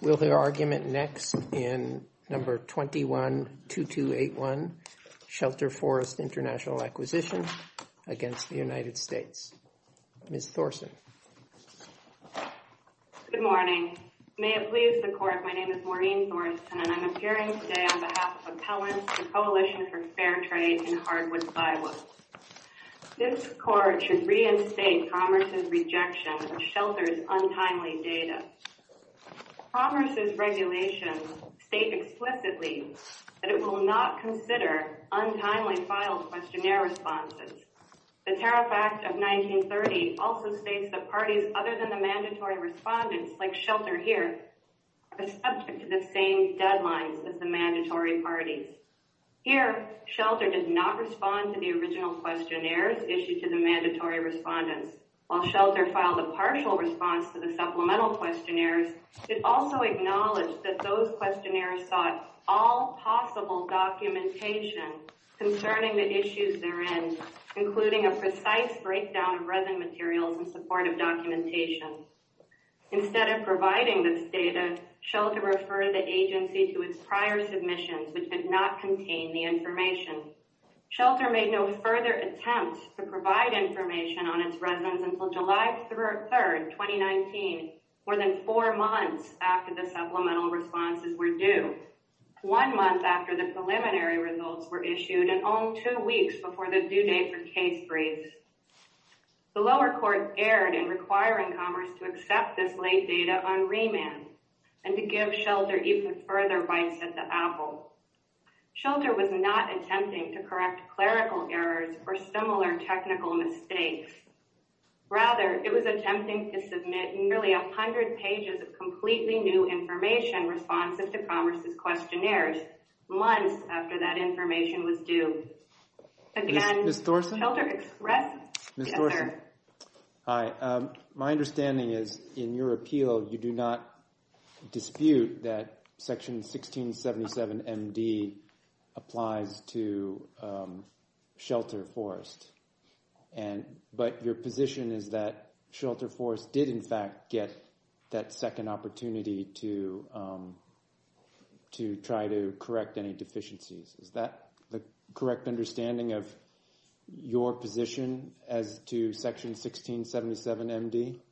We'll hear argument next in number 212281, Shelter Forest International Acquisition, against the United States. Ms. Thorsen. Good morning. May it please the court. My name is Maureen Thorsen and I'm appearing today on behalf of Appellants, the Coalition for Fair Trade in Hardwood, Iowa. This court should reinstate Thomas' rejection of Shelter's untimely data. Thomas' regulations state explicitly that it will not consider untimely filed questionnaire responses. The Tariff Act of 1930 also states that parties other than the mandatory respondents, like Shelter here, are subject to the same deadlines as the mandatory parties. Here, Shelter did not respond to the original questionnaires issued to the mandatory respondents. While Shelter filed a partial response to the supplemental questionnaires, it also acknowledged that those questionnaires sought all possible documentation concerning the issues therein, including a precise breakdown of resin materials in support of documentation. Instead of providing this data, Shelter referred the agency to its prior submissions, which did not contain the information. Shelter made no further attempts to provide information on its resins until July 3rd, 2019, more than four months after the supplemental responses were due, one month after the preliminary results were issued and only two weeks before the due date for case briefs. The lower court erred in requiring Commerce to accept this late data on remand and to give Shelter even further bites at the apple. Shelter was not attempting to correct clerical errors or similar technical mistakes. Rather, it was attempting to submit nearly 100 pages of completely new information responsive to Commerce's questionnaires, months after that information was due. Again, Shelter expressed concern. Hi, my understanding is in your appeal, you do not dispute that Section 1677 M.D. applies to Shelter Forest and but your position is that Shelter Forest did, in fact, get that second opportunity to to try to correct any deficiencies. Is that the correct understanding of your position as to Section 1677 M.D.?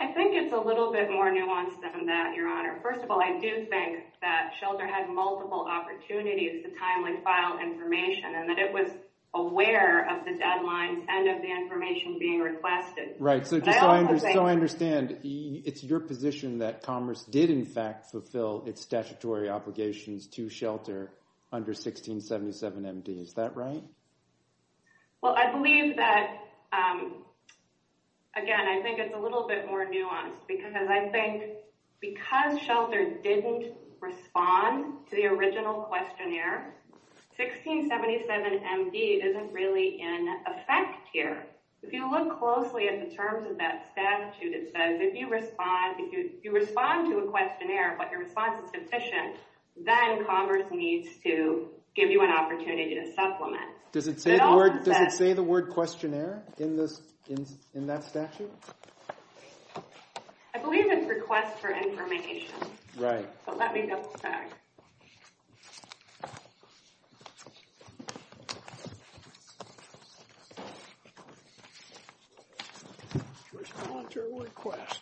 I think it's a little bit more nuanced than that, Your Honor. First of all, I do think that Shelter had multiple opportunities to timely file information and that it was aware of the deadlines and of the information being requested. Right. So just so I understand, it's your position that Commerce did, in fact, fulfill its statutory obligations to Shelter under 1677 M.D., is that right? Well, I believe that, again, I think it's a little bit more nuanced because I think because Shelter didn't respond to the original questionnaire, 1677 M.D. isn't really in effect here. If you look closely at the terms of that statute, it says if you respond to a questionnaire but your response is deficient, then Commerce needs to give you an opportunity to supplement. Does it say the word questionnaire in that statute? I believe it's request for information. Right. So let me double check. Respond to request.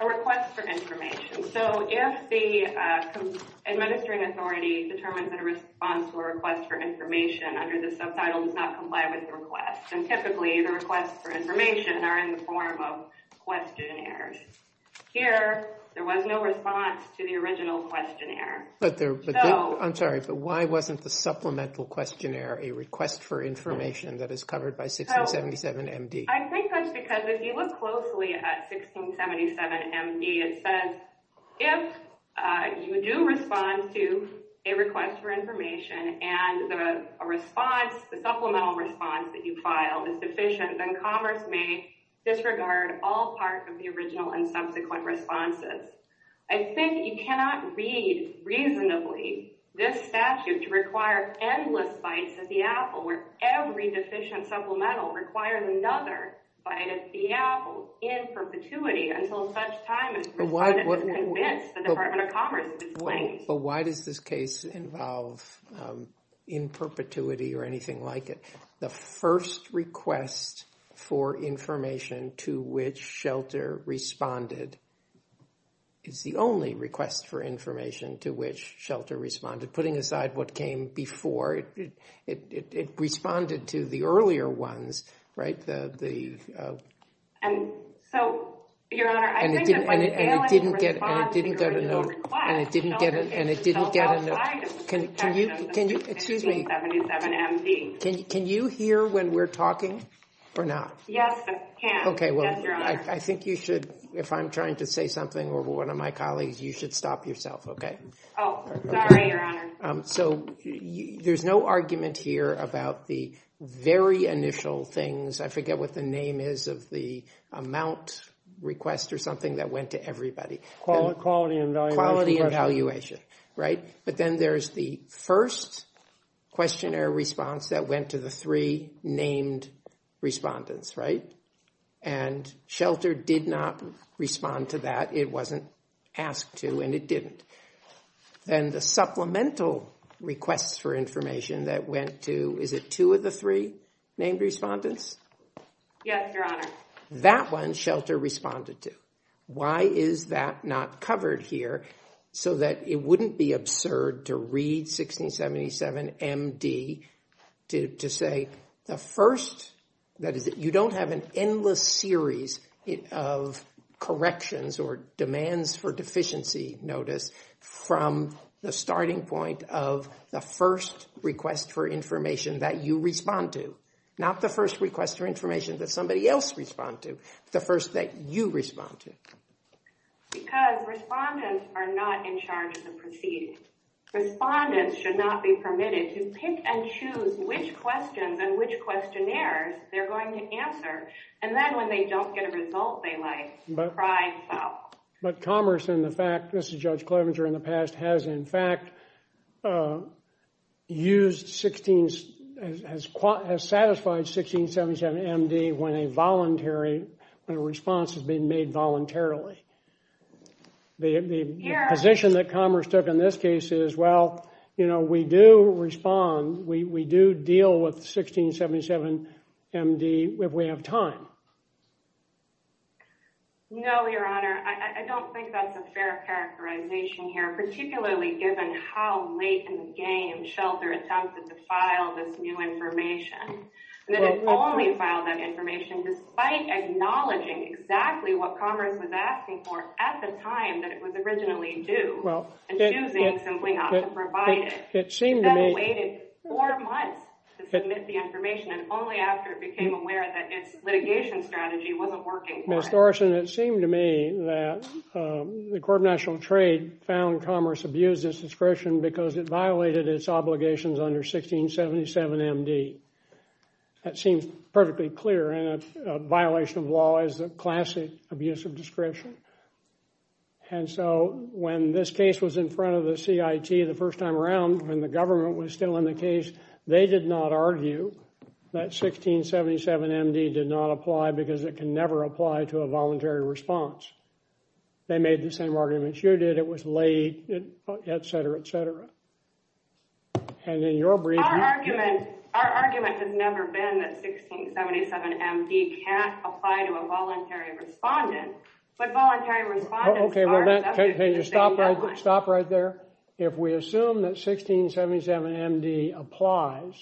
A request for information. So if the administering authority determines that a response to a request for information under the subtitle does not comply with the request, then typically the requests for information are in the form of questionnaires. Here, there was no response to the original questionnaire. I'm sorry, but why wasn't the supplemental questionnaire a request for information that is covered by 1677 M.D.? I think that's because if you look closely at 1677 M.D., it says if you do respond to a request for information and the supplemental response that you filed is deficient, then Commerce may disregard all parts of the original and subsequent responses. I think you cannot read reasonably this statute to require endless bites at the apple where every deficient supplemental requires another bite at the apple in perpetuity until such time as the department of Commerce is slain. But why does this case involve in perpetuity or anything like it? The first request for information to which Shelter responded is the only request for information to which Shelter responded. Putting aside what came before, it responded to the earlier ones, right? And so, Your Honor, I think that when you fail in response to your original request, don't get yourself outside of the section of 1677 M.D. Can you hear when we're talking or not? Yes, I can. Okay, well, I think you should, if I'm trying to say something or one of my colleagues, you should stop yourself, okay? Oh, sorry, Your Honor. So there's no argument here about the very initial things. I forget what the name is of the amount request or something that went to everybody. Quality evaluation. Quality evaluation, right? But then there's the first questionnaire response that went to the three named respondents, right? And Shelter did not respond to that. It wasn't asked to and it didn't. And the supplemental requests for information that went to, is it two of the three named respondents? Yes, Your Honor. That one Shelter responded to. Why is that not covered here? So that it wouldn't be absurd to read 1677 M.D. to say the first, that is, you don't have an endless series of corrections or demands for deficiency notice from the starting point of the first request for information that you respond to. Not the first request for information that somebody else respond to, the first that you respond to. Because respondents are not in charge of the proceedings. Respondents should not be permitted to pick and choose which questions and which questionnaires they're going to answer. And then when they don't get a result, they like cry out. But Commerce, in the fact, this is Judge Klovenger in the past, has in fact used 16, has satisfied 1677 M.D. when a voluntary, when a response has been made voluntarily. The position that Commerce took in this case is, well, you know, we do respond, we do deal with 1677 M.D. if we have time. No, Your Honor, I don't think that's a fair characterization here, particularly given how late in the game Shelter attempted to file this new information, that it only filed that information despite acknowledging exactly what Commerce was asking for at the time that it was originally due, and choosing simply not to provide it. It seemed to me— And then it waited four months to submit the information, and only after it became aware that its litigation strategy wasn't working for it. Ms. Thorsen, it seemed to me that the Court of National Trade found Commerce abused its discretion because it violated its obligations under 1677 M.D. That seems perfectly clear, and a violation of law is a classic abusive discretion. And so when this case was in front of the CIT the first time around, when the government was still in the case, they did not argue that 1677 M.D. did not apply because it can never apply to a voluntary response. They made the same arguments you did. It was late, et cetera, et cetera. And in your brief— Our argument—our argument has never been that 1677 M.D. can't apply to a voluntary respondent, but voluntary respondents are— Okay, well, can you stop right there? If we assume that 1677 M.D. applies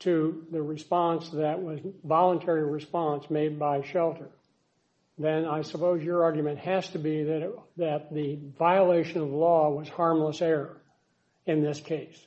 to the response that was—voluntary response made by shelter, then I suppose your argument has to be that the violation of law was harmless error in this case.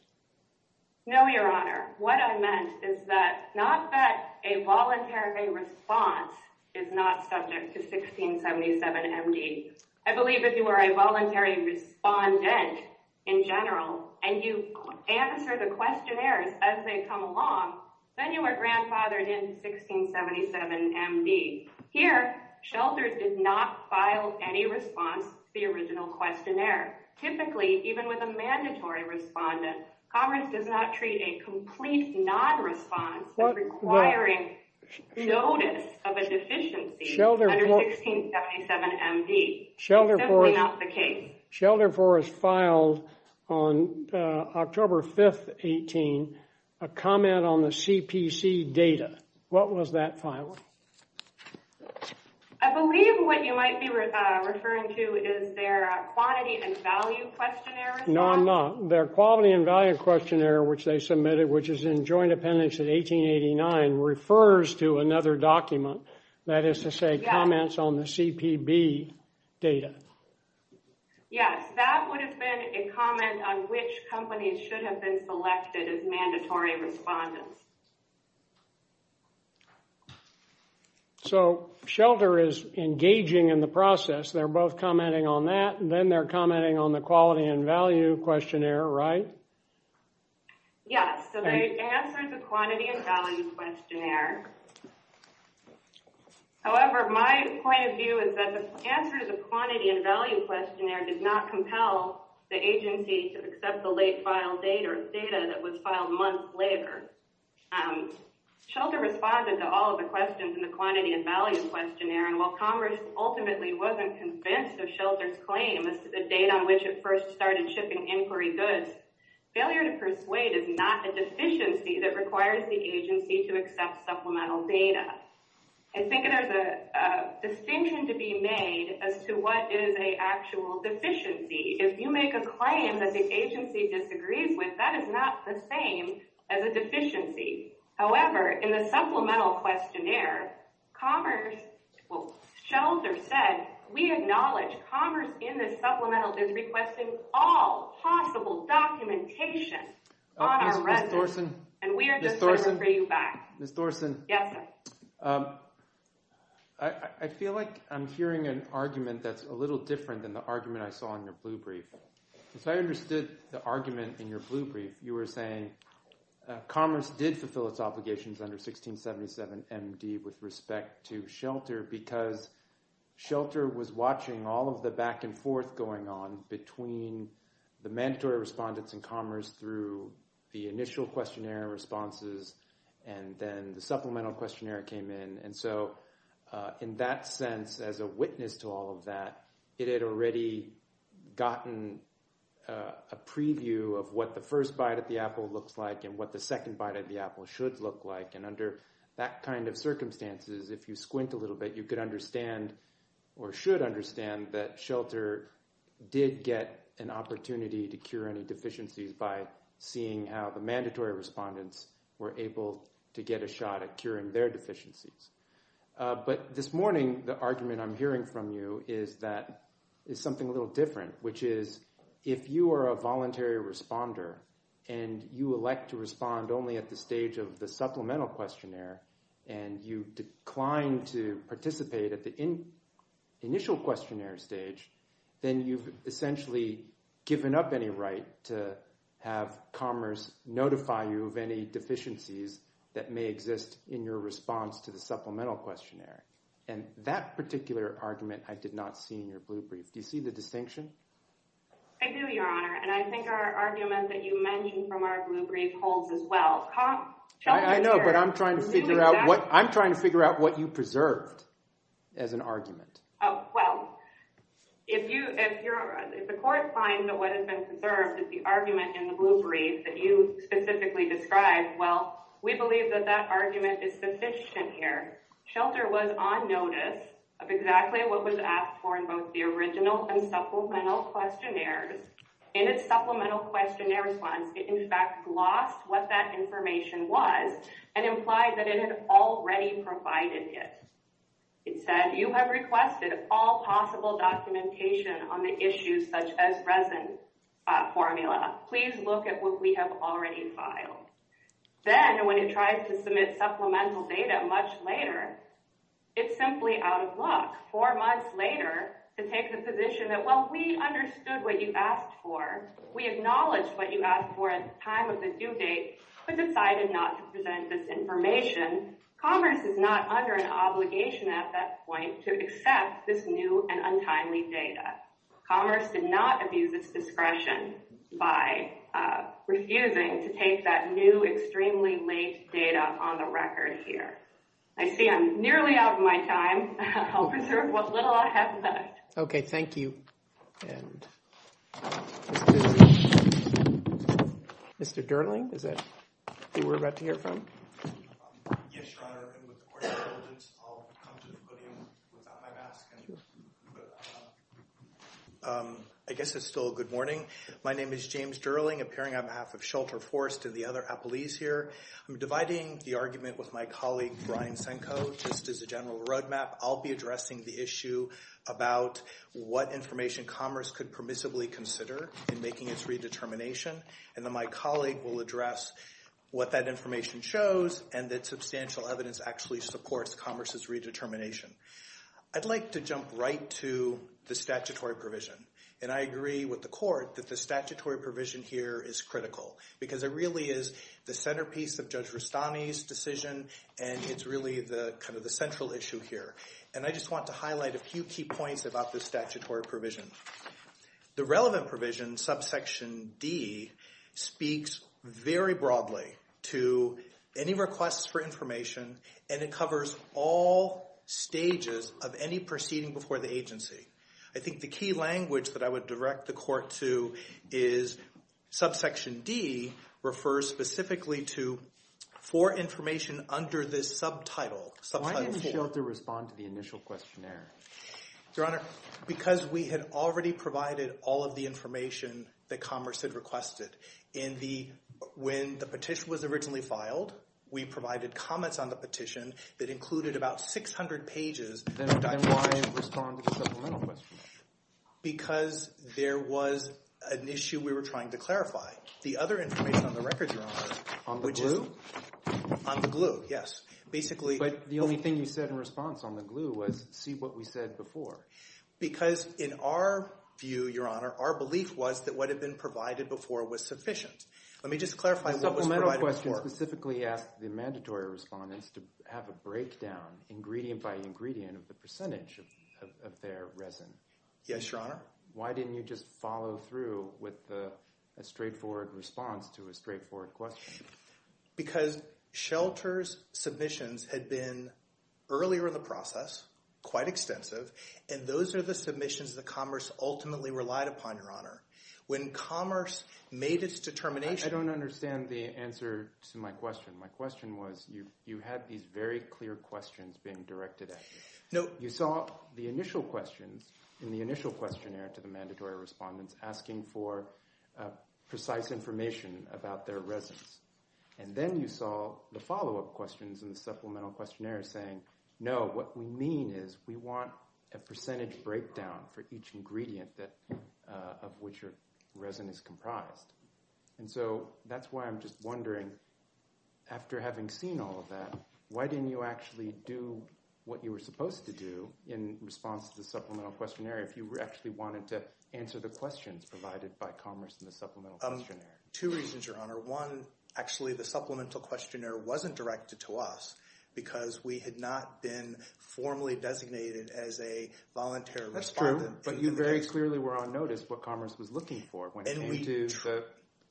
No, Your Honor. What I meant is that not that a voluntary response is not subject to 1677 M.D. I believe if you were a voluntary respondent in general and you answer the questionnaires as they come along, then you were grandfathered in 1677 M.D. Here, shelters did not file any response to the original questionnaire. Typically, even with a mandatory respondent, Congress does not treat a complete non-response as requiring notice of a deficiency under 1677 M.D. That's simply not the case. Shelter for us filed on October 5th, 18, a comment on the CPC data. What was that file? I believe what you might be referring to is their quantity and value questionnaire. No, I'm not. Their quality and value questionnaire, which they submitted, which is in joint appendix in 1889, refers to another document. That is to say, comments on the CPB data. Yes, that would have been a comment on which companies should have been selected as mandatory respondents. So Shelter is engaging in the process. They're both commenting on that, and then they're commenting on the quality and value questionnaire, right? Yes, so they answered the quantity and value questionnaire. However, my point of view is that the answer to the quantity and value questionnaire did not compel the agency to accept the late filed data or data that was filed months later. Shelter responded to all of the questions in the quantity and value questionnaire, and while Congress ultimately wasn't convinced of Shelter's claim as to the date on which it first started shipping inquiry goods, failure to persuade is not a deficiency that requires the agency to accept supplemental data. I think there's a distinction to be made as to what is a actual deficiency. If you make a claim that the agency disagrees with, that is not the same as a deficiency. However, in the supplemental questionnaire, Commerce, well, Shelter said, we acknowledge Commerce in this supplemental is requesting all possible documentation on our residents, and we are just going to bring you back. Ms. Thorsen, I feel like I'm hearing an argument that's a little different than the argument I saw in your blue brief. If I understood the argument in your blue brief, you were saying Commerce did fulfill its obligations under 1677MD with respect to Shelter because Shelter was watching all of the back and forth going on between the mandatory respondents in Commerce through the initial questionnaire responses and then the supplemental questionnaire came in. And so in that sense, as a witness to all of that, it had already gotten a preview of what the first bite of the apple looks like and what the second bite of the apple should look like. And under that kind of circumstances, if you squint a little bit, you could understand or should understand that Shelter did get an opportunity to cure any deficiencies by seeing how the mandatory respondents were able to get a shot at curing their deficiencies. But this morning, the argument I'm hearing from you is that it's something a little different, which is if you are a voluntary responder and you elect to respond only at the stage of the supplemental questionnaire and you decline to participate at the initial questionnaire stage, then you've essentially given up any right to have Commerce notify you of any deficiencies that may exist in your response to the supplemental questionnaire. And that particular argument, I did not see in your blue brief. Do you see the distinction? I do, Your Honor. And I think our argument that you mentioned from our blue brief holds as well. I know, but I'm trying to figure out what you preserved as an argument. Well, if the court finds that what has been preserved is the argument in the blue brief that you specifically described, well, we believe that that argument is sufficient here. Shelter was on notice of exactly what was asked for in both the original and supplemental questionnaires in its supplemental questionnaire response. It, in fact, lost what that information was and implied that it had already provided it. It said you have requested all possible documentation on the issues such as resin formula. Please look at what we have already filed. Then when it tried to submit supplemental data much later, it's simply out of luck. Four months later to take the position that, well, we understood what you asked for. We acknowledged what you asked for at the time of the due date, but decided not to present this information. Commerce is not under an obligation at that point to accept this new and untimely data. Commerce did not abuse its discretion by refusing to take that new, extremely late data on the record here. I see I'm nearly out of my time. I'll preserve what little I have left. OK. Thank you. Mr. Durling? Is that who we're about to hear from? Yes, Your Honor. I guess it's still a good morning. My name is James Durling, appearing on behalf of Shelter, Forrest, and the other appellees here. I'm dividing the argument with my colleague, Brian Senko, just as a general roadmap. I'll be addressing the issue about what information commerce could permissibly consider in making its redetermination. And then my colleague will address what that information shows and that substantial evidence actually supports commerce's redetermination. I'd like to jump right to the statutory provision. And I agree with the court that the statutory provision here is critical, because it really is the centerpiece of Judge Rustani's decision. And it's really the central issue here. And I just want to highlight a few key points about the statutory provision. The relevant provision, subsection D, speaks very broadly to any requests for information. And it covers all stages of any proceeding before the agency. I think the key language that I would direct the court to is subsection D refers specifically to for information under this subtitle. Why didn't Shelter respond to the initial questionnaire? Your Honor, because we had already provided all of the information that commerce had requested. When the petition was originally filed, we provided comments on the petition that included about 600 pages. Then why respond to the supplemental question? Because there was an issue we were trying to clarify. The other information on the records, Your Honor, which is on the glue. Yes. Basically, the only thing you said in response on the glue was, see what we said before. Because in our view, Your Honor, our belief was that what had been provided before was sufficient. Let me just clarify what was provided before. The supplemental question specifically asked the mandatory respondents to have a breakdown, ingredient by ingredient, of the percentage of their resin. Yes, Your Honor. Why didn't you just follow through with a straightforward response to a straightforward question? Because Shelter's submissions had been earlier in the process, quite extensive. And those are the submissions that commerce ultimately relied upon, Your Honor. When commerce made its determination. I don't understand the answer to my question. My question was, you had these very clear questions being directed at you. No. You saw the initial questions in the initial questionnaire to the mandatory respondents asking for precise information about their resins. And then you saw the follow-up questions in the supplemental questionnaire saying, no, what we mean is we want a percentage breakdown for each ingredient of which your resin is comprised. And so that's why I'm just wondering, after having seen all of that, why didn't you do what you were supposed to do in response to the supplemental questionnaire if you actually wanted to answer the questions provided by commerce in the supplemental questionnaire? Two reasons, Your Honor. One, actually, the supplemental questionnaire wasn't directed to us because we had not been formally designated as a voluntary respondent. That's true. But you very clearly were on notice what commerce was looking for when it came to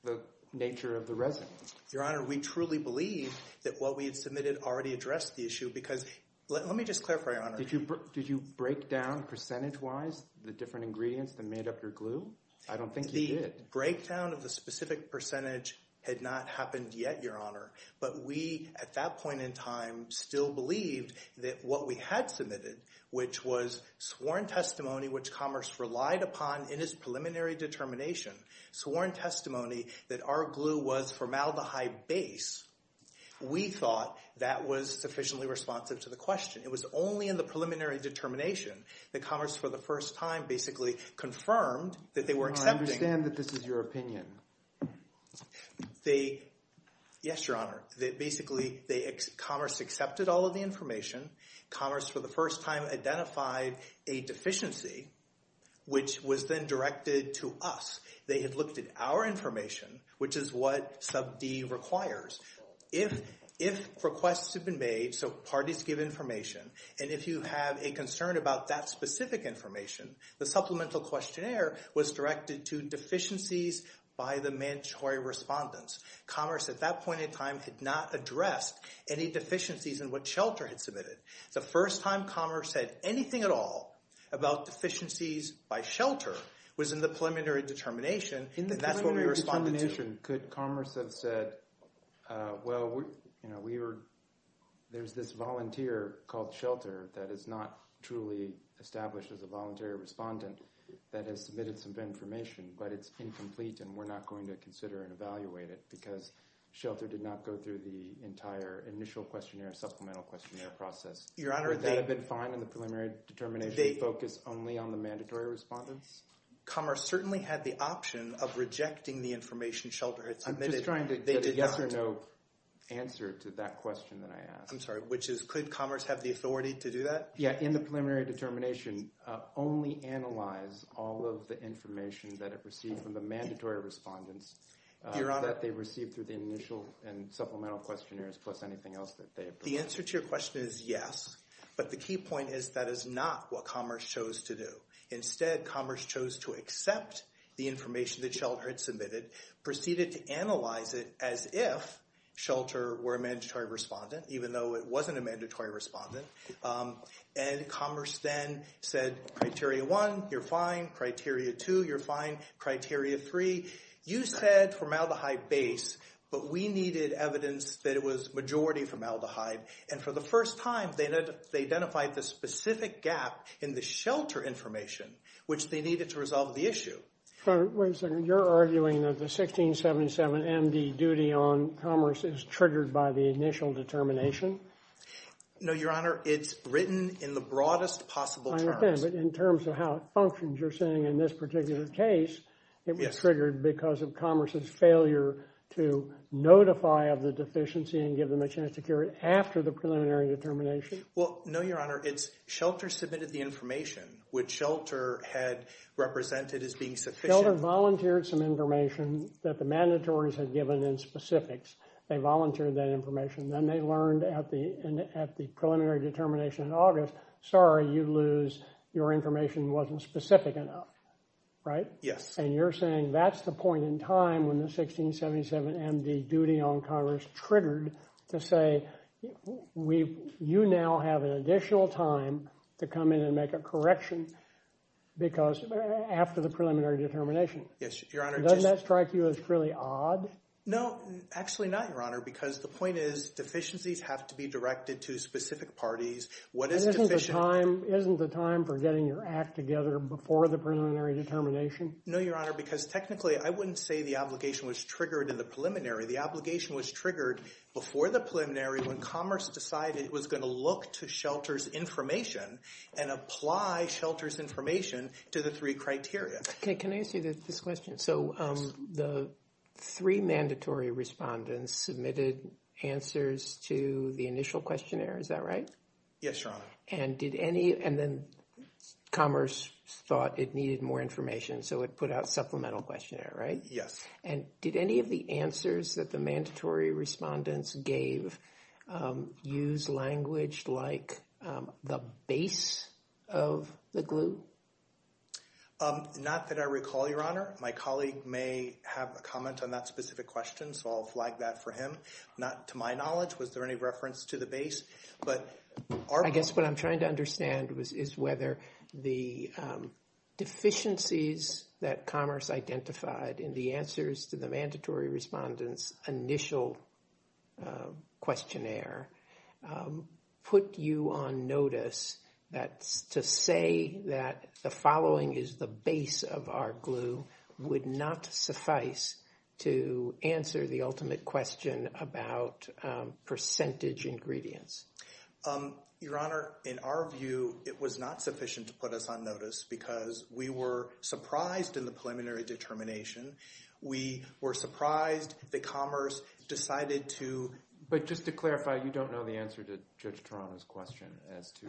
the nature of the resin. Your Honor, we truly believe that what we had submitted already addressed the issue because let me just clarify, Your Honor. Did you break down percentage-wise the different ingredients that made up your glue? I don't think you did. The breakdown of the specific percentage had not happened yet, Your Honor. But we, at that point in time, still believed that what we had submitted, which was sworn testimony which commerce relied upon in its preliminary determination, sworn testimony that our glue was formaldehyde base, we thought that was sufficiently responsive to the question. It was only in the preliminary determination that commerce, for the first time, basically confirmed that they were accepting. Your Honor, I understand that this is your opinion. Yes, Your Honor. Basically, commerce accepted all of the information. Commerce, for the first time, identified a deficiency which was then directed to us. They had looked at our information, which is what sub D requires. If requests have been made, so parties give information, and if you have a concern about that specific information, the supplemental questionnaire was directed to deficiencies by the mandatory respondents. Commerce, at that point in time, had not addressed any deficiencies in what Shelter had submitted. The first time commerce said anything at all about deficiencies by Shelter was in the preliminary determination, and that's what we responded to. Could commerce have said, well, there's this volunteer called Shelter that is not truly established as a voluntary respondent that has submitted some information, but it's incomplete and we're not going to consider and evaluate it because Shelter did not go through the entire initial questionnaire, supplemental questionnaire process. Your Honor, they— Would that have been fine in the preliminary determination to focus only on the mandatory respondents? Commerce certainly had the option of rejecting the information Shelter had submitted. I'm just trying to get a yes or no answer to that question that I asked. I'm sorry, which is could commerce have the authority to do that? Yeah, in the preliminary determination, only analyze all of the information that it received from the mandatory respondents that they received through the initial and supplemental questionnaires plus anything else that they approved. The answer to your question is yes, but the key point is that is not what commerce chose to do. Instead, commerce chose to accept the information that Shelter had submitted, proceeded to analyze it as if Shelter were a mandatory respondent, even though it wasn't a mandatory respondent. And commerce then said, criteria one, you're fine. Criteria two, you're fine. Criteria three, you said formaldehyde base, but we needed evidence that it was majority formaldehyde. And for the first time, they identified the specific gap in the Shelter information, which they needed to resolve the issue. Wait a second. You're arguing that the 1677MD duty on commerce is triggered by the initial determination? No, Your Honor. It's written in the broadest possible terms. But in terms of how it functions, you're saying in this particular case, it was triggered because of commerce's failure to notify of the deficiency and give them a chance to cure after the preliminary determination? Well, no, Your Honor. It's Shelter submitted the information, which Shelter had represented as being sufficient. Shelter volunteered some information that the mandatories had given in specifics. They volunteered that information. Then they learned at the preliminary determination in August, sorry, you lose. Your information wasn't specific enough, right? Yes. And you're saying that's the point in time when the 1677MD duty on commerce triggered to say, you now have an additional time to come in and make a correction because after the preliminary determination. Yes, Your Honor. Doesn't that strike you as really odd? No, actually not, Your Honor. Because the point is deficiencies have to be directed to specific parties. What is deficient? Isn't the time for getting your act together before the preliminary determination? No, Your Honor. Because technically, I wouldn't say the obligation was triggered in the preliminary. The obligation was triggered before the preliminary when commerce decided it was going to look to Shelter's information and apply Shelter's information to the three criteria. Okay, can I ask you this question? So the three mandatory respondents submitted answers to the initial questionnaire. Is that right? Yes, Your Honor. And did any, and then commerce thought it needed more information. So it put out supplemental questionnaire, right? Yes. And did any of the answers that the mandatory respondents gave use language like the base of the glue? Not that I recall, Your Honor. My colleague may have a comment on that specific question. So I'll flag that for him. Not to my knowledge. Was there any reference to the base? But I guess what I'm trying to understand is whether the deficiencies that commerce identified in the answers to the mandatory respondents initial questionnaire put you on notice that to say that the following is the base of our glue would not suffice to answer the ultimate question about percentage ingredients. Your Honor, in our view, it was not sufficient to put us on notice because we were surprised in the preliminary determination. We were surprised that commerce decided to. But just to clarify, you don't know the answer to Judge Toronto's question as to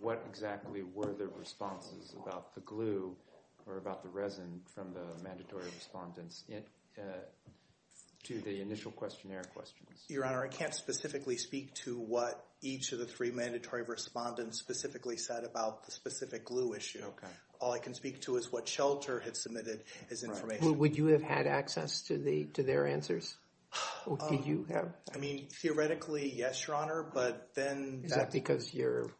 what exactly were the responses about the glue or about the resin from the mandatory respondents to the initial questionnaire questions. Your Honor, I can't specifically speak to what each of the three mandatory respondents specifically said about the specific glue issue. OK. All I can speak to is what Shelter had submitted as information. Would you have had access to their answers? Did you have? I mean, theoretically, yes, Your Honor. But then that's... Is that because you're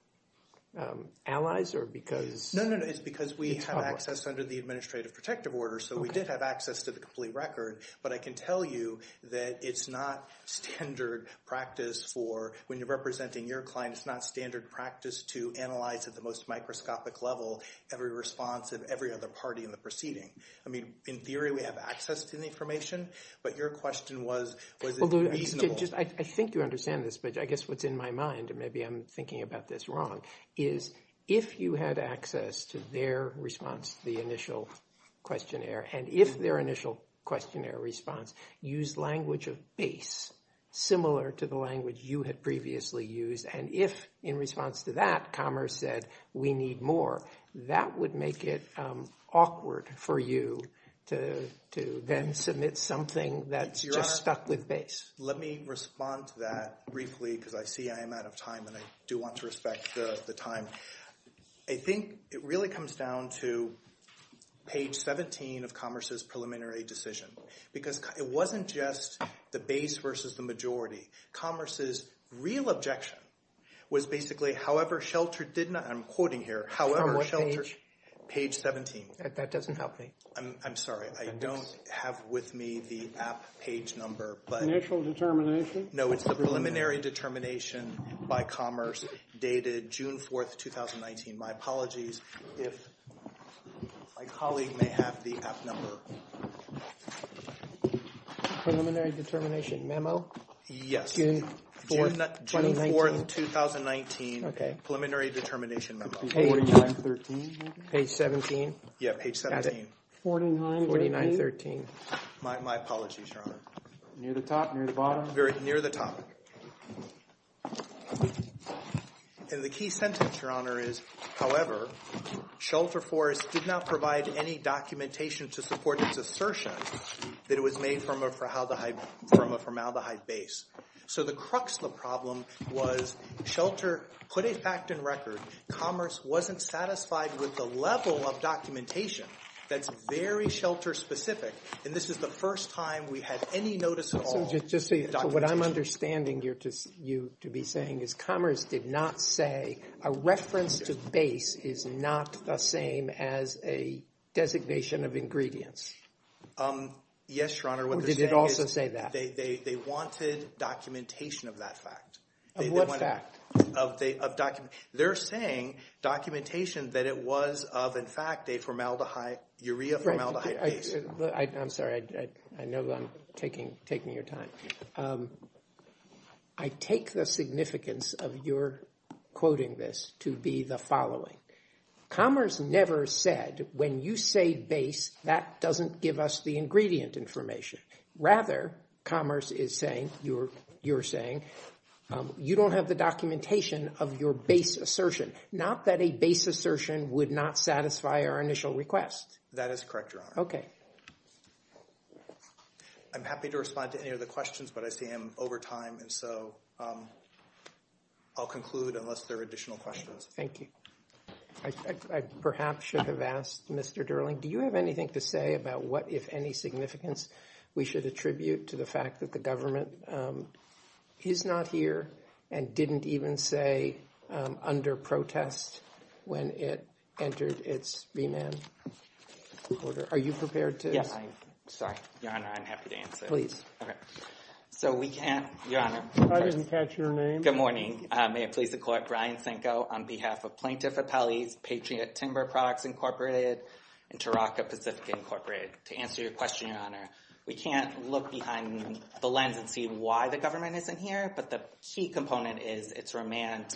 allies or because... No, no, no. It's because we have access under the Administrative Protective Order. So we did have access to the complete record. But I can tell you that it's not standard practice for when you're representing your client. It's not standard practice to analyze at the most microscopic level every response of every other party in the proceeding. I mean, in theory, we have access to the information. But your question was, was it reasonable? I think you understand this, but I guess what's in my mind, and maybe I'm thinking about this wrong, is if you had access to their response to the initial questionnaire, and if their initial questionnaire response used language of base similar to the language you had previously used, and if in response to that commerce said, we need more, that would make it awkward for you to then submit something that's just stuck with base. Let me respond to that briefly because I see I am out of time, and I do want to respect the time. I think it really comes down to page 17 of Commerce's preliminary decision. Because it wasn't just the base versus the majority. Commerce's real objection was basically, however, Shelter did not, I'm quoting here, however, Shelter, page 17. That doesn't help me. I'm sorry. I don't have with me the app page number. Initial determination? No, it's the preliminary determination by Commerce dated June 4th, 2019. My apologies if my colleague may have the app number. Preliminary determination memo? Yes. June 4th, 2019. Preliminary determination memo. Page 17? Yeah, page 17. That's it. 49.13. My apologies, Your Honor. Near the top? Near the bottom? Near the top. And the key sentence, Your Honor, is, however, Shelter Forest did not provide any documentation to support its assertion that it was made from a formaldehyde base. So the crux of the problem was Shelter put a fact in record, Commerce wasn't satisfied with the level of documentation that's very Shelter-specific. And this is the first time we had any notice at all of documentation. So what I'm understanding you to be saying is Commerce did not say a reference to base is not the same as a designation of ingredients. Yes, Your Honor. Or did it also say that? They wanted documentation of that fact. Of what fact? They're saying documentation that it was of, in fact, a formaldehyde, urea formaldehyde base. I'm sorry, I know that I'm taking your time. I take the significance of your quoting this to be the following. Commerce never said, when you say base, that doesn't give us the ingredient information. Rather, Commerce is saying, you're saying, you don't have the documentation of your base assertion. Not that a base assertion would not satisfy our initial request. That is correct, Your Honor. Okay. I'm happy to respond to any of the questions, but I see I'm over time. And so I'll conclude unless there are additional questions. Thank you. I perhaps should have asked, Mr. Derling, do you have anything to say about what, if any, significance we should attribute to the fact that the government is not here and didn't even say under protest when it entered its B-Man order? Are you prepared to? Yes, I am. Sorry, Your Honor, I'm happy to answer. Please. So we can't, Your Honor. I didn't catch your name. Good morning. May it please the Court, Brian Sanko on behalf of Plaintiff Appellees, Patriot Timber Products Incorporated, and Taraka Pacifica Incorporated. To answer your question, Your Honor, we can't look behind the lens and see why the government isn't here. But the key component is its remand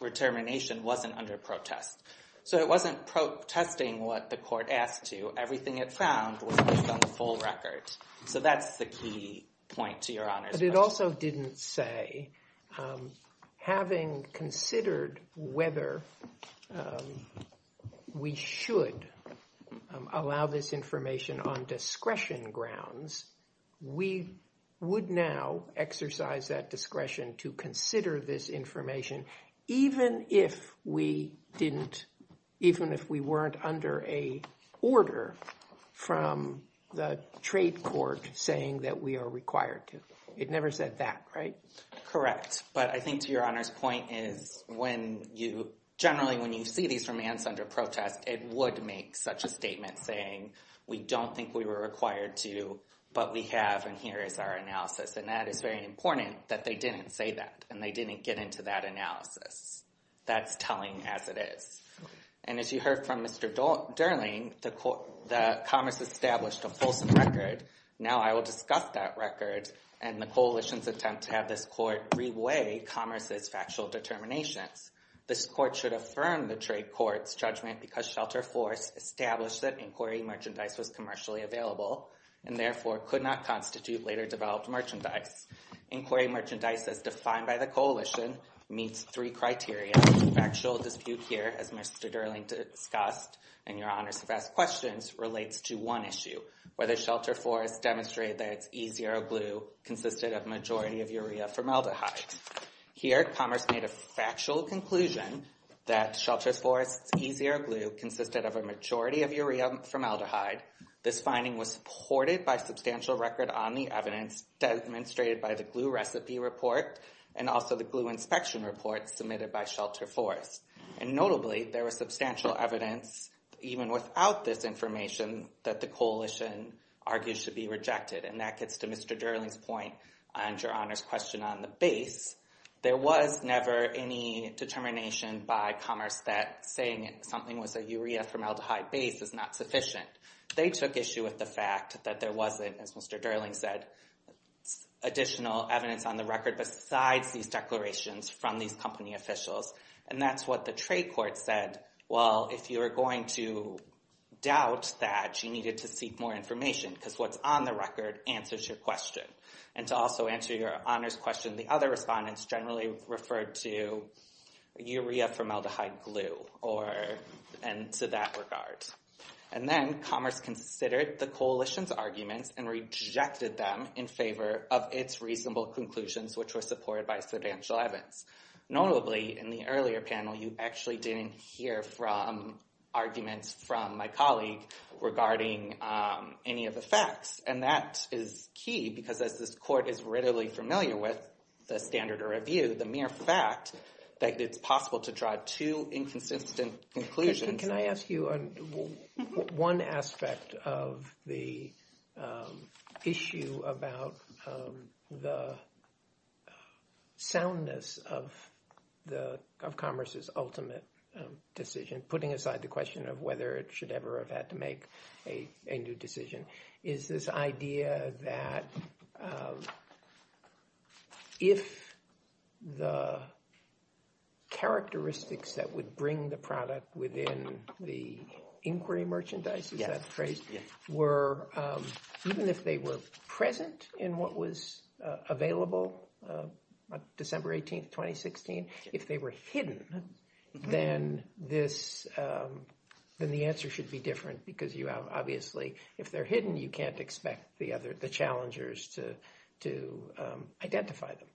determination wasn't under protest. So it wasn't protesting what the court asked to. Everything it found was based on the full record. So that's the key point to Your Honor's question. It also didn't say, having considered whether we should allow this information on discretion grounds, we would now exercise that discretion to consider this information even if we weren't under a order from the trade court saying that we are required to. It never said that, right? Correct. But I think, to Your Honor's point, is generally when you see these remands under protest, it would make such a statement saying, we don't think we were required to, but we have, and here is our analysis. And that is very important that they didn't say that, and they didn't get into that analysis. That's telling as it is. And as you heard from Mr. Durling, the Commerce established a fulsome record. Now I will discuss that record. And the coalition's attempt to have this court reweigh Commerce's factual determinations. This court should affirm the trade court's judgment because Shelter Forest established that inquiry merchandise was commercially available and therefore could not constitute later developed merchandise. Inquiry merchandise, as defined by the coalition, meets three criteria. Factual dispute here, as Mr. Durling discussed, and Your Honors have asked questions, relates to one issue, whether Shelter Forest demonstrated that its E0 glue consisted of majority of urea formaldehyde. Here, Commerce made a factual conclusion that Shelter Forest's E0 glue consisted of a majority of urea formaldehyde. This finding was supported by substantial record on the evidence demonstrated by the glue recipe report and also the glue inspection report submitted by Shelter Forest. And notably, there was substantial evidence, even without this information, that the coalition argues should be rejected. And that gets to Mr. Durling's point on Your Honors' question on the base. There was never any determination by Commerce that saying something was a urea formaldehyde base is not sufficient. They took issue with the fact that there wasn't, as Mr. Durling said, additional evidence on the record besides these declarations from these company officials. And that's what the trade court said. Well, if you are going to doubt that, you needed to seek more information because what's on the record answers your question. And to also answer Your Honors' question, the other respondents generally referred to urea formaldehyde glue or, and to that regard. And then Commerce considered the coalition's arguments and rejected them in favor of its reasonable conclusions, which were supported by substantial evidence. Notably, in the earlier panel, you actually didn't hear from arguments from my colleague regarding any of the facts. And that is key because as this court is readily familiar with the standard of review, the mere fact that it's possible to draw two inconsistent conclusions. Can I ask you one aspect of the issue about the soundness of Commerce's ultimate decision, putting aside the question of whether it should ever have had to make a new decision, is this inquiry merchandise, is that the phrase, were, even if they were present in what was available December 18th, 2016, if they were hidden, then the answer should be different because you have, obviously, if they're hidden, you can't expect the other, the challengers to identify them.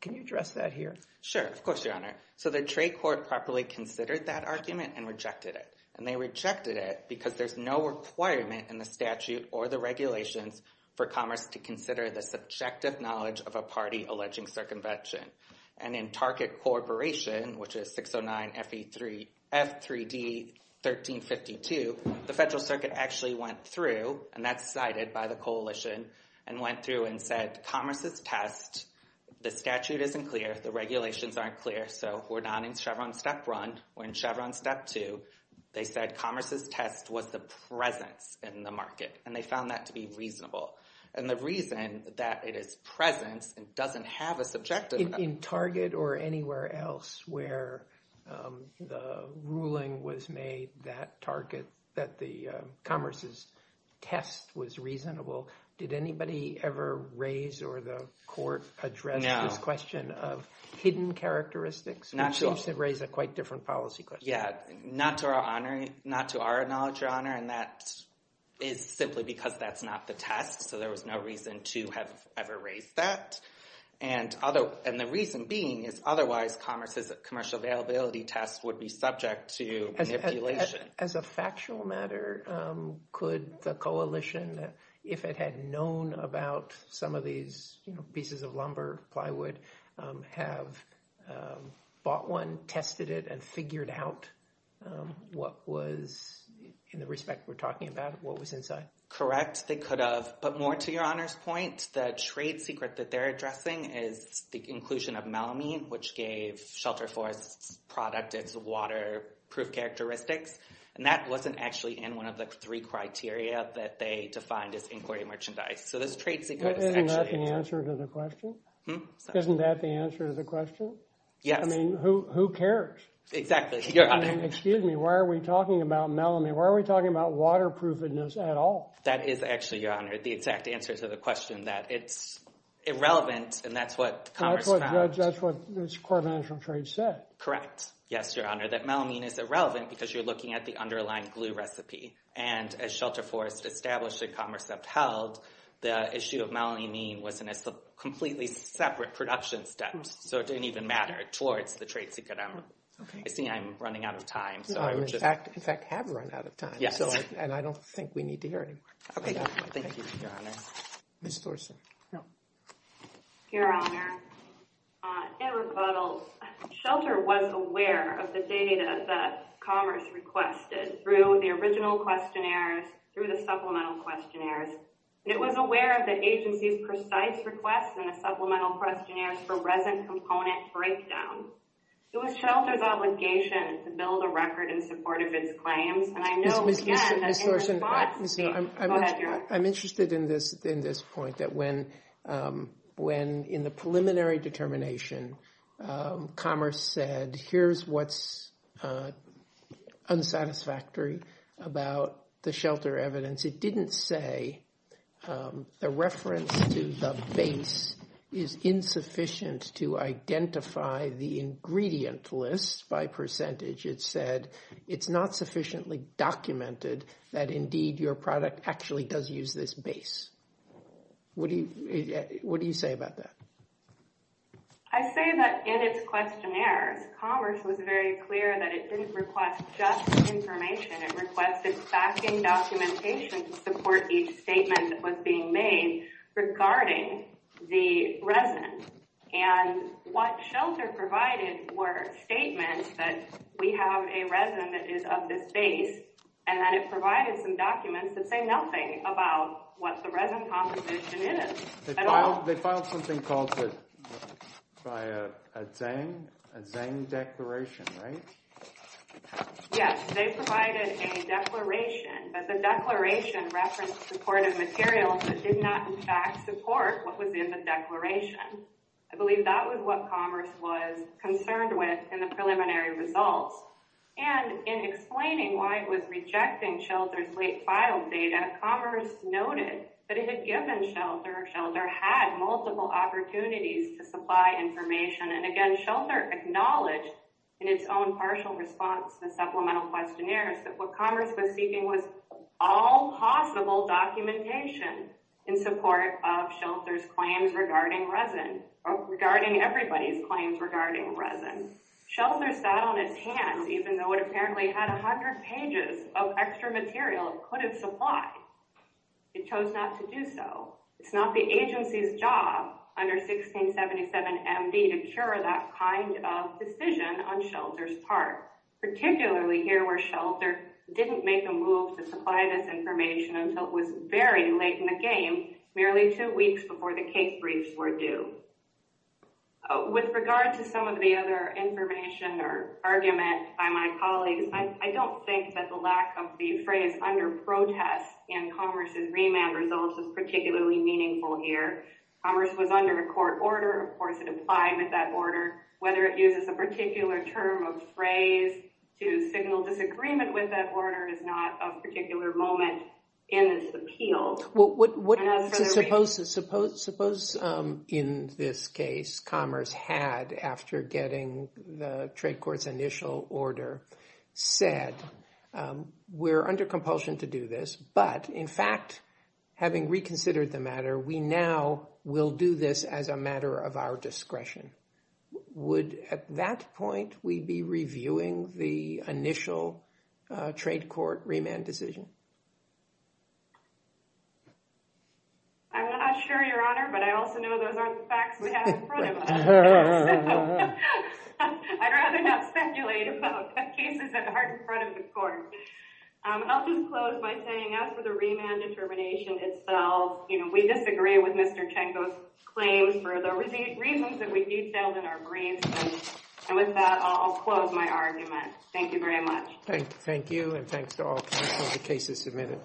Can you address that here? Sure. Of course, Your Honor. So the trade court properly considered that argument and rejected it. And they rejected it because there's no requirement in the statute or the regulations for Commerce to consider the subjective knowledge of a party alleging circumvention. And in Target Corporation, which is 609 F3D 1352, the Federal Circuit actually went through, and that's cited by the coalition, and went through and said Commerce's test, the statute isn't clear, the regulations aren't clear, so we're not in Chevron step one, we're in Chevron step two. They said Commerce's test was the presence in the market. And they found that to be reasonable. And the reason that it is presence and doesn't have a subjective... In Target or anywhere else where the ruling was made that Target, that the Commerce's test was reasonable, did anybody ever raise or the court address this question? Of hidden characteristics, which seems to raise a quite different policy question. Yeah, not to our knowledge, Your Honor. And that is simply because that's not the test. So there was no reason to have ever raised that. And the reason being is otherwise Commerce's commercial availability test would be subject to manipulation. As a factual matter, could the coalition, if it had known about some of these pieces of lumber, plywood, have bought one, tested it, and figured out what was, in the respect we're talking about, what was inside? Correct, they could have. But more to Your Honor's point, the trade secret that they're addressing is the inclusion of melamine, which gave Shelter Forest's product its waterproof characteristics. And that wasn't actually in one of the three criteria that they defined as inquiry merchandise. So this trade secret is actually- Isn't that the answer to the question? Isn't that the answer to the question? Yes. I mean, who cares? Exactly, Your Honor. Excuse me, why are we talking about melamine? Why are we talking about waterproofness at all? That is actually, Your Honor, the exact answer to the question, that it's irrelevant. And that's what Commerce found. That's what this court of international trade said. Correct. Yes, Your Honor, that melamine is irrelevant because you're looking at the underlying glue And as Shelter Forest established that Commerce upheld, the issue of melamine was in a completely separate production step. So it didn't even matter towards the trade secret. I see I'm running out of time. No, you, in fact, have run out of time. Yes. And I don't think we need to hear anymore. Okay, thank you, Your Honor. Ms. Thorsen. Your Honor, in rebuttal, Shelter was aware of the data that Commerce requested through the original questionnaires, through the supplemental questionnaires. And it was aware of the agency's precise requests in the supplemental questionnaires for resin component breakdown. It was Shelter's obligation to build a record in support of its claims. And I know, again, that in response to the- Ms. Thorsen, I'm interested in this point, that when, in the preliminary determination, Commerce said, here's what's unsatisfactory about the shelter evidence. It didn't say the reference to the base is insufficient to identify the ingredient list by percentage. It said, it's not sufficiently documented that, indeed, your product actually does use this base. What do you say about that? I say that in its questionnaires, Commerce was very clear that it didn't request just information. It requested backing documentation to support each statement that was being made regarding the resin. And what Shelter provided were statements that we have a resin that is of this base, and that it provided some documents that say nothing about what the resin composition is. They filed something called a Zeng declaration, right? Yes, they provided a declaration. But the declaration referenced supportive materials that did not, in fact, support what was in the declaration. I believe that was what Commerce was concerned with in the preliminary results. And in explaining why it was rejecting Shelter's late filed data, Commerce noted that it had given Shelter, or Shelter had multiple opportunities to supply information. And again, Shelter acknowledged in its own partial response to the supplemental questionnaires that what Commerce was seeking was all possible documentation in support of Shelter's claims regarding resin, regarding everybody's claims regarding resin. Shelter sat on its hands, even though it apparently had 100 pages of extra material it could have supplied. It chose not to do so. It's not the agency's job under 1677 MD to cure that kind of decision on Shelter's part, particularly here where Shelter didn't make a move to supply this information until it was very late in the game, merely two weeks before the cake briefs were due. With regard to some of the other information or argument by my colleagues, I don't think that the lack of the phrase under protest in Commerce's remand results is particularly meaningful here. Commerce was under a court order. Of course, it applied with that order. Whether it uses a particular term of phrase to signal disagreement with that order is not a particular moment in this appeal. So suppose in this case Commerce had, after getting the trade court's initial order, said we're under compulsion to do this, but in fact, having reconsidered the matter, we now will do this as a matter of our discretion. Would at that point we be reviewing the initial trade court remand decision? I'm not sure, Your Honor, but I also know those aren't the facts we have in front of us. I'd rather not speculate about cases that aren't in front of the court. I'll just close by saying after the remand determination itself, we disagree with Mr. Tchenko's claims for the reasons that we detailed in our briefs. And with that, I'll close my argument. Thank you very much. Thank you, and thanks to all the cases submitted.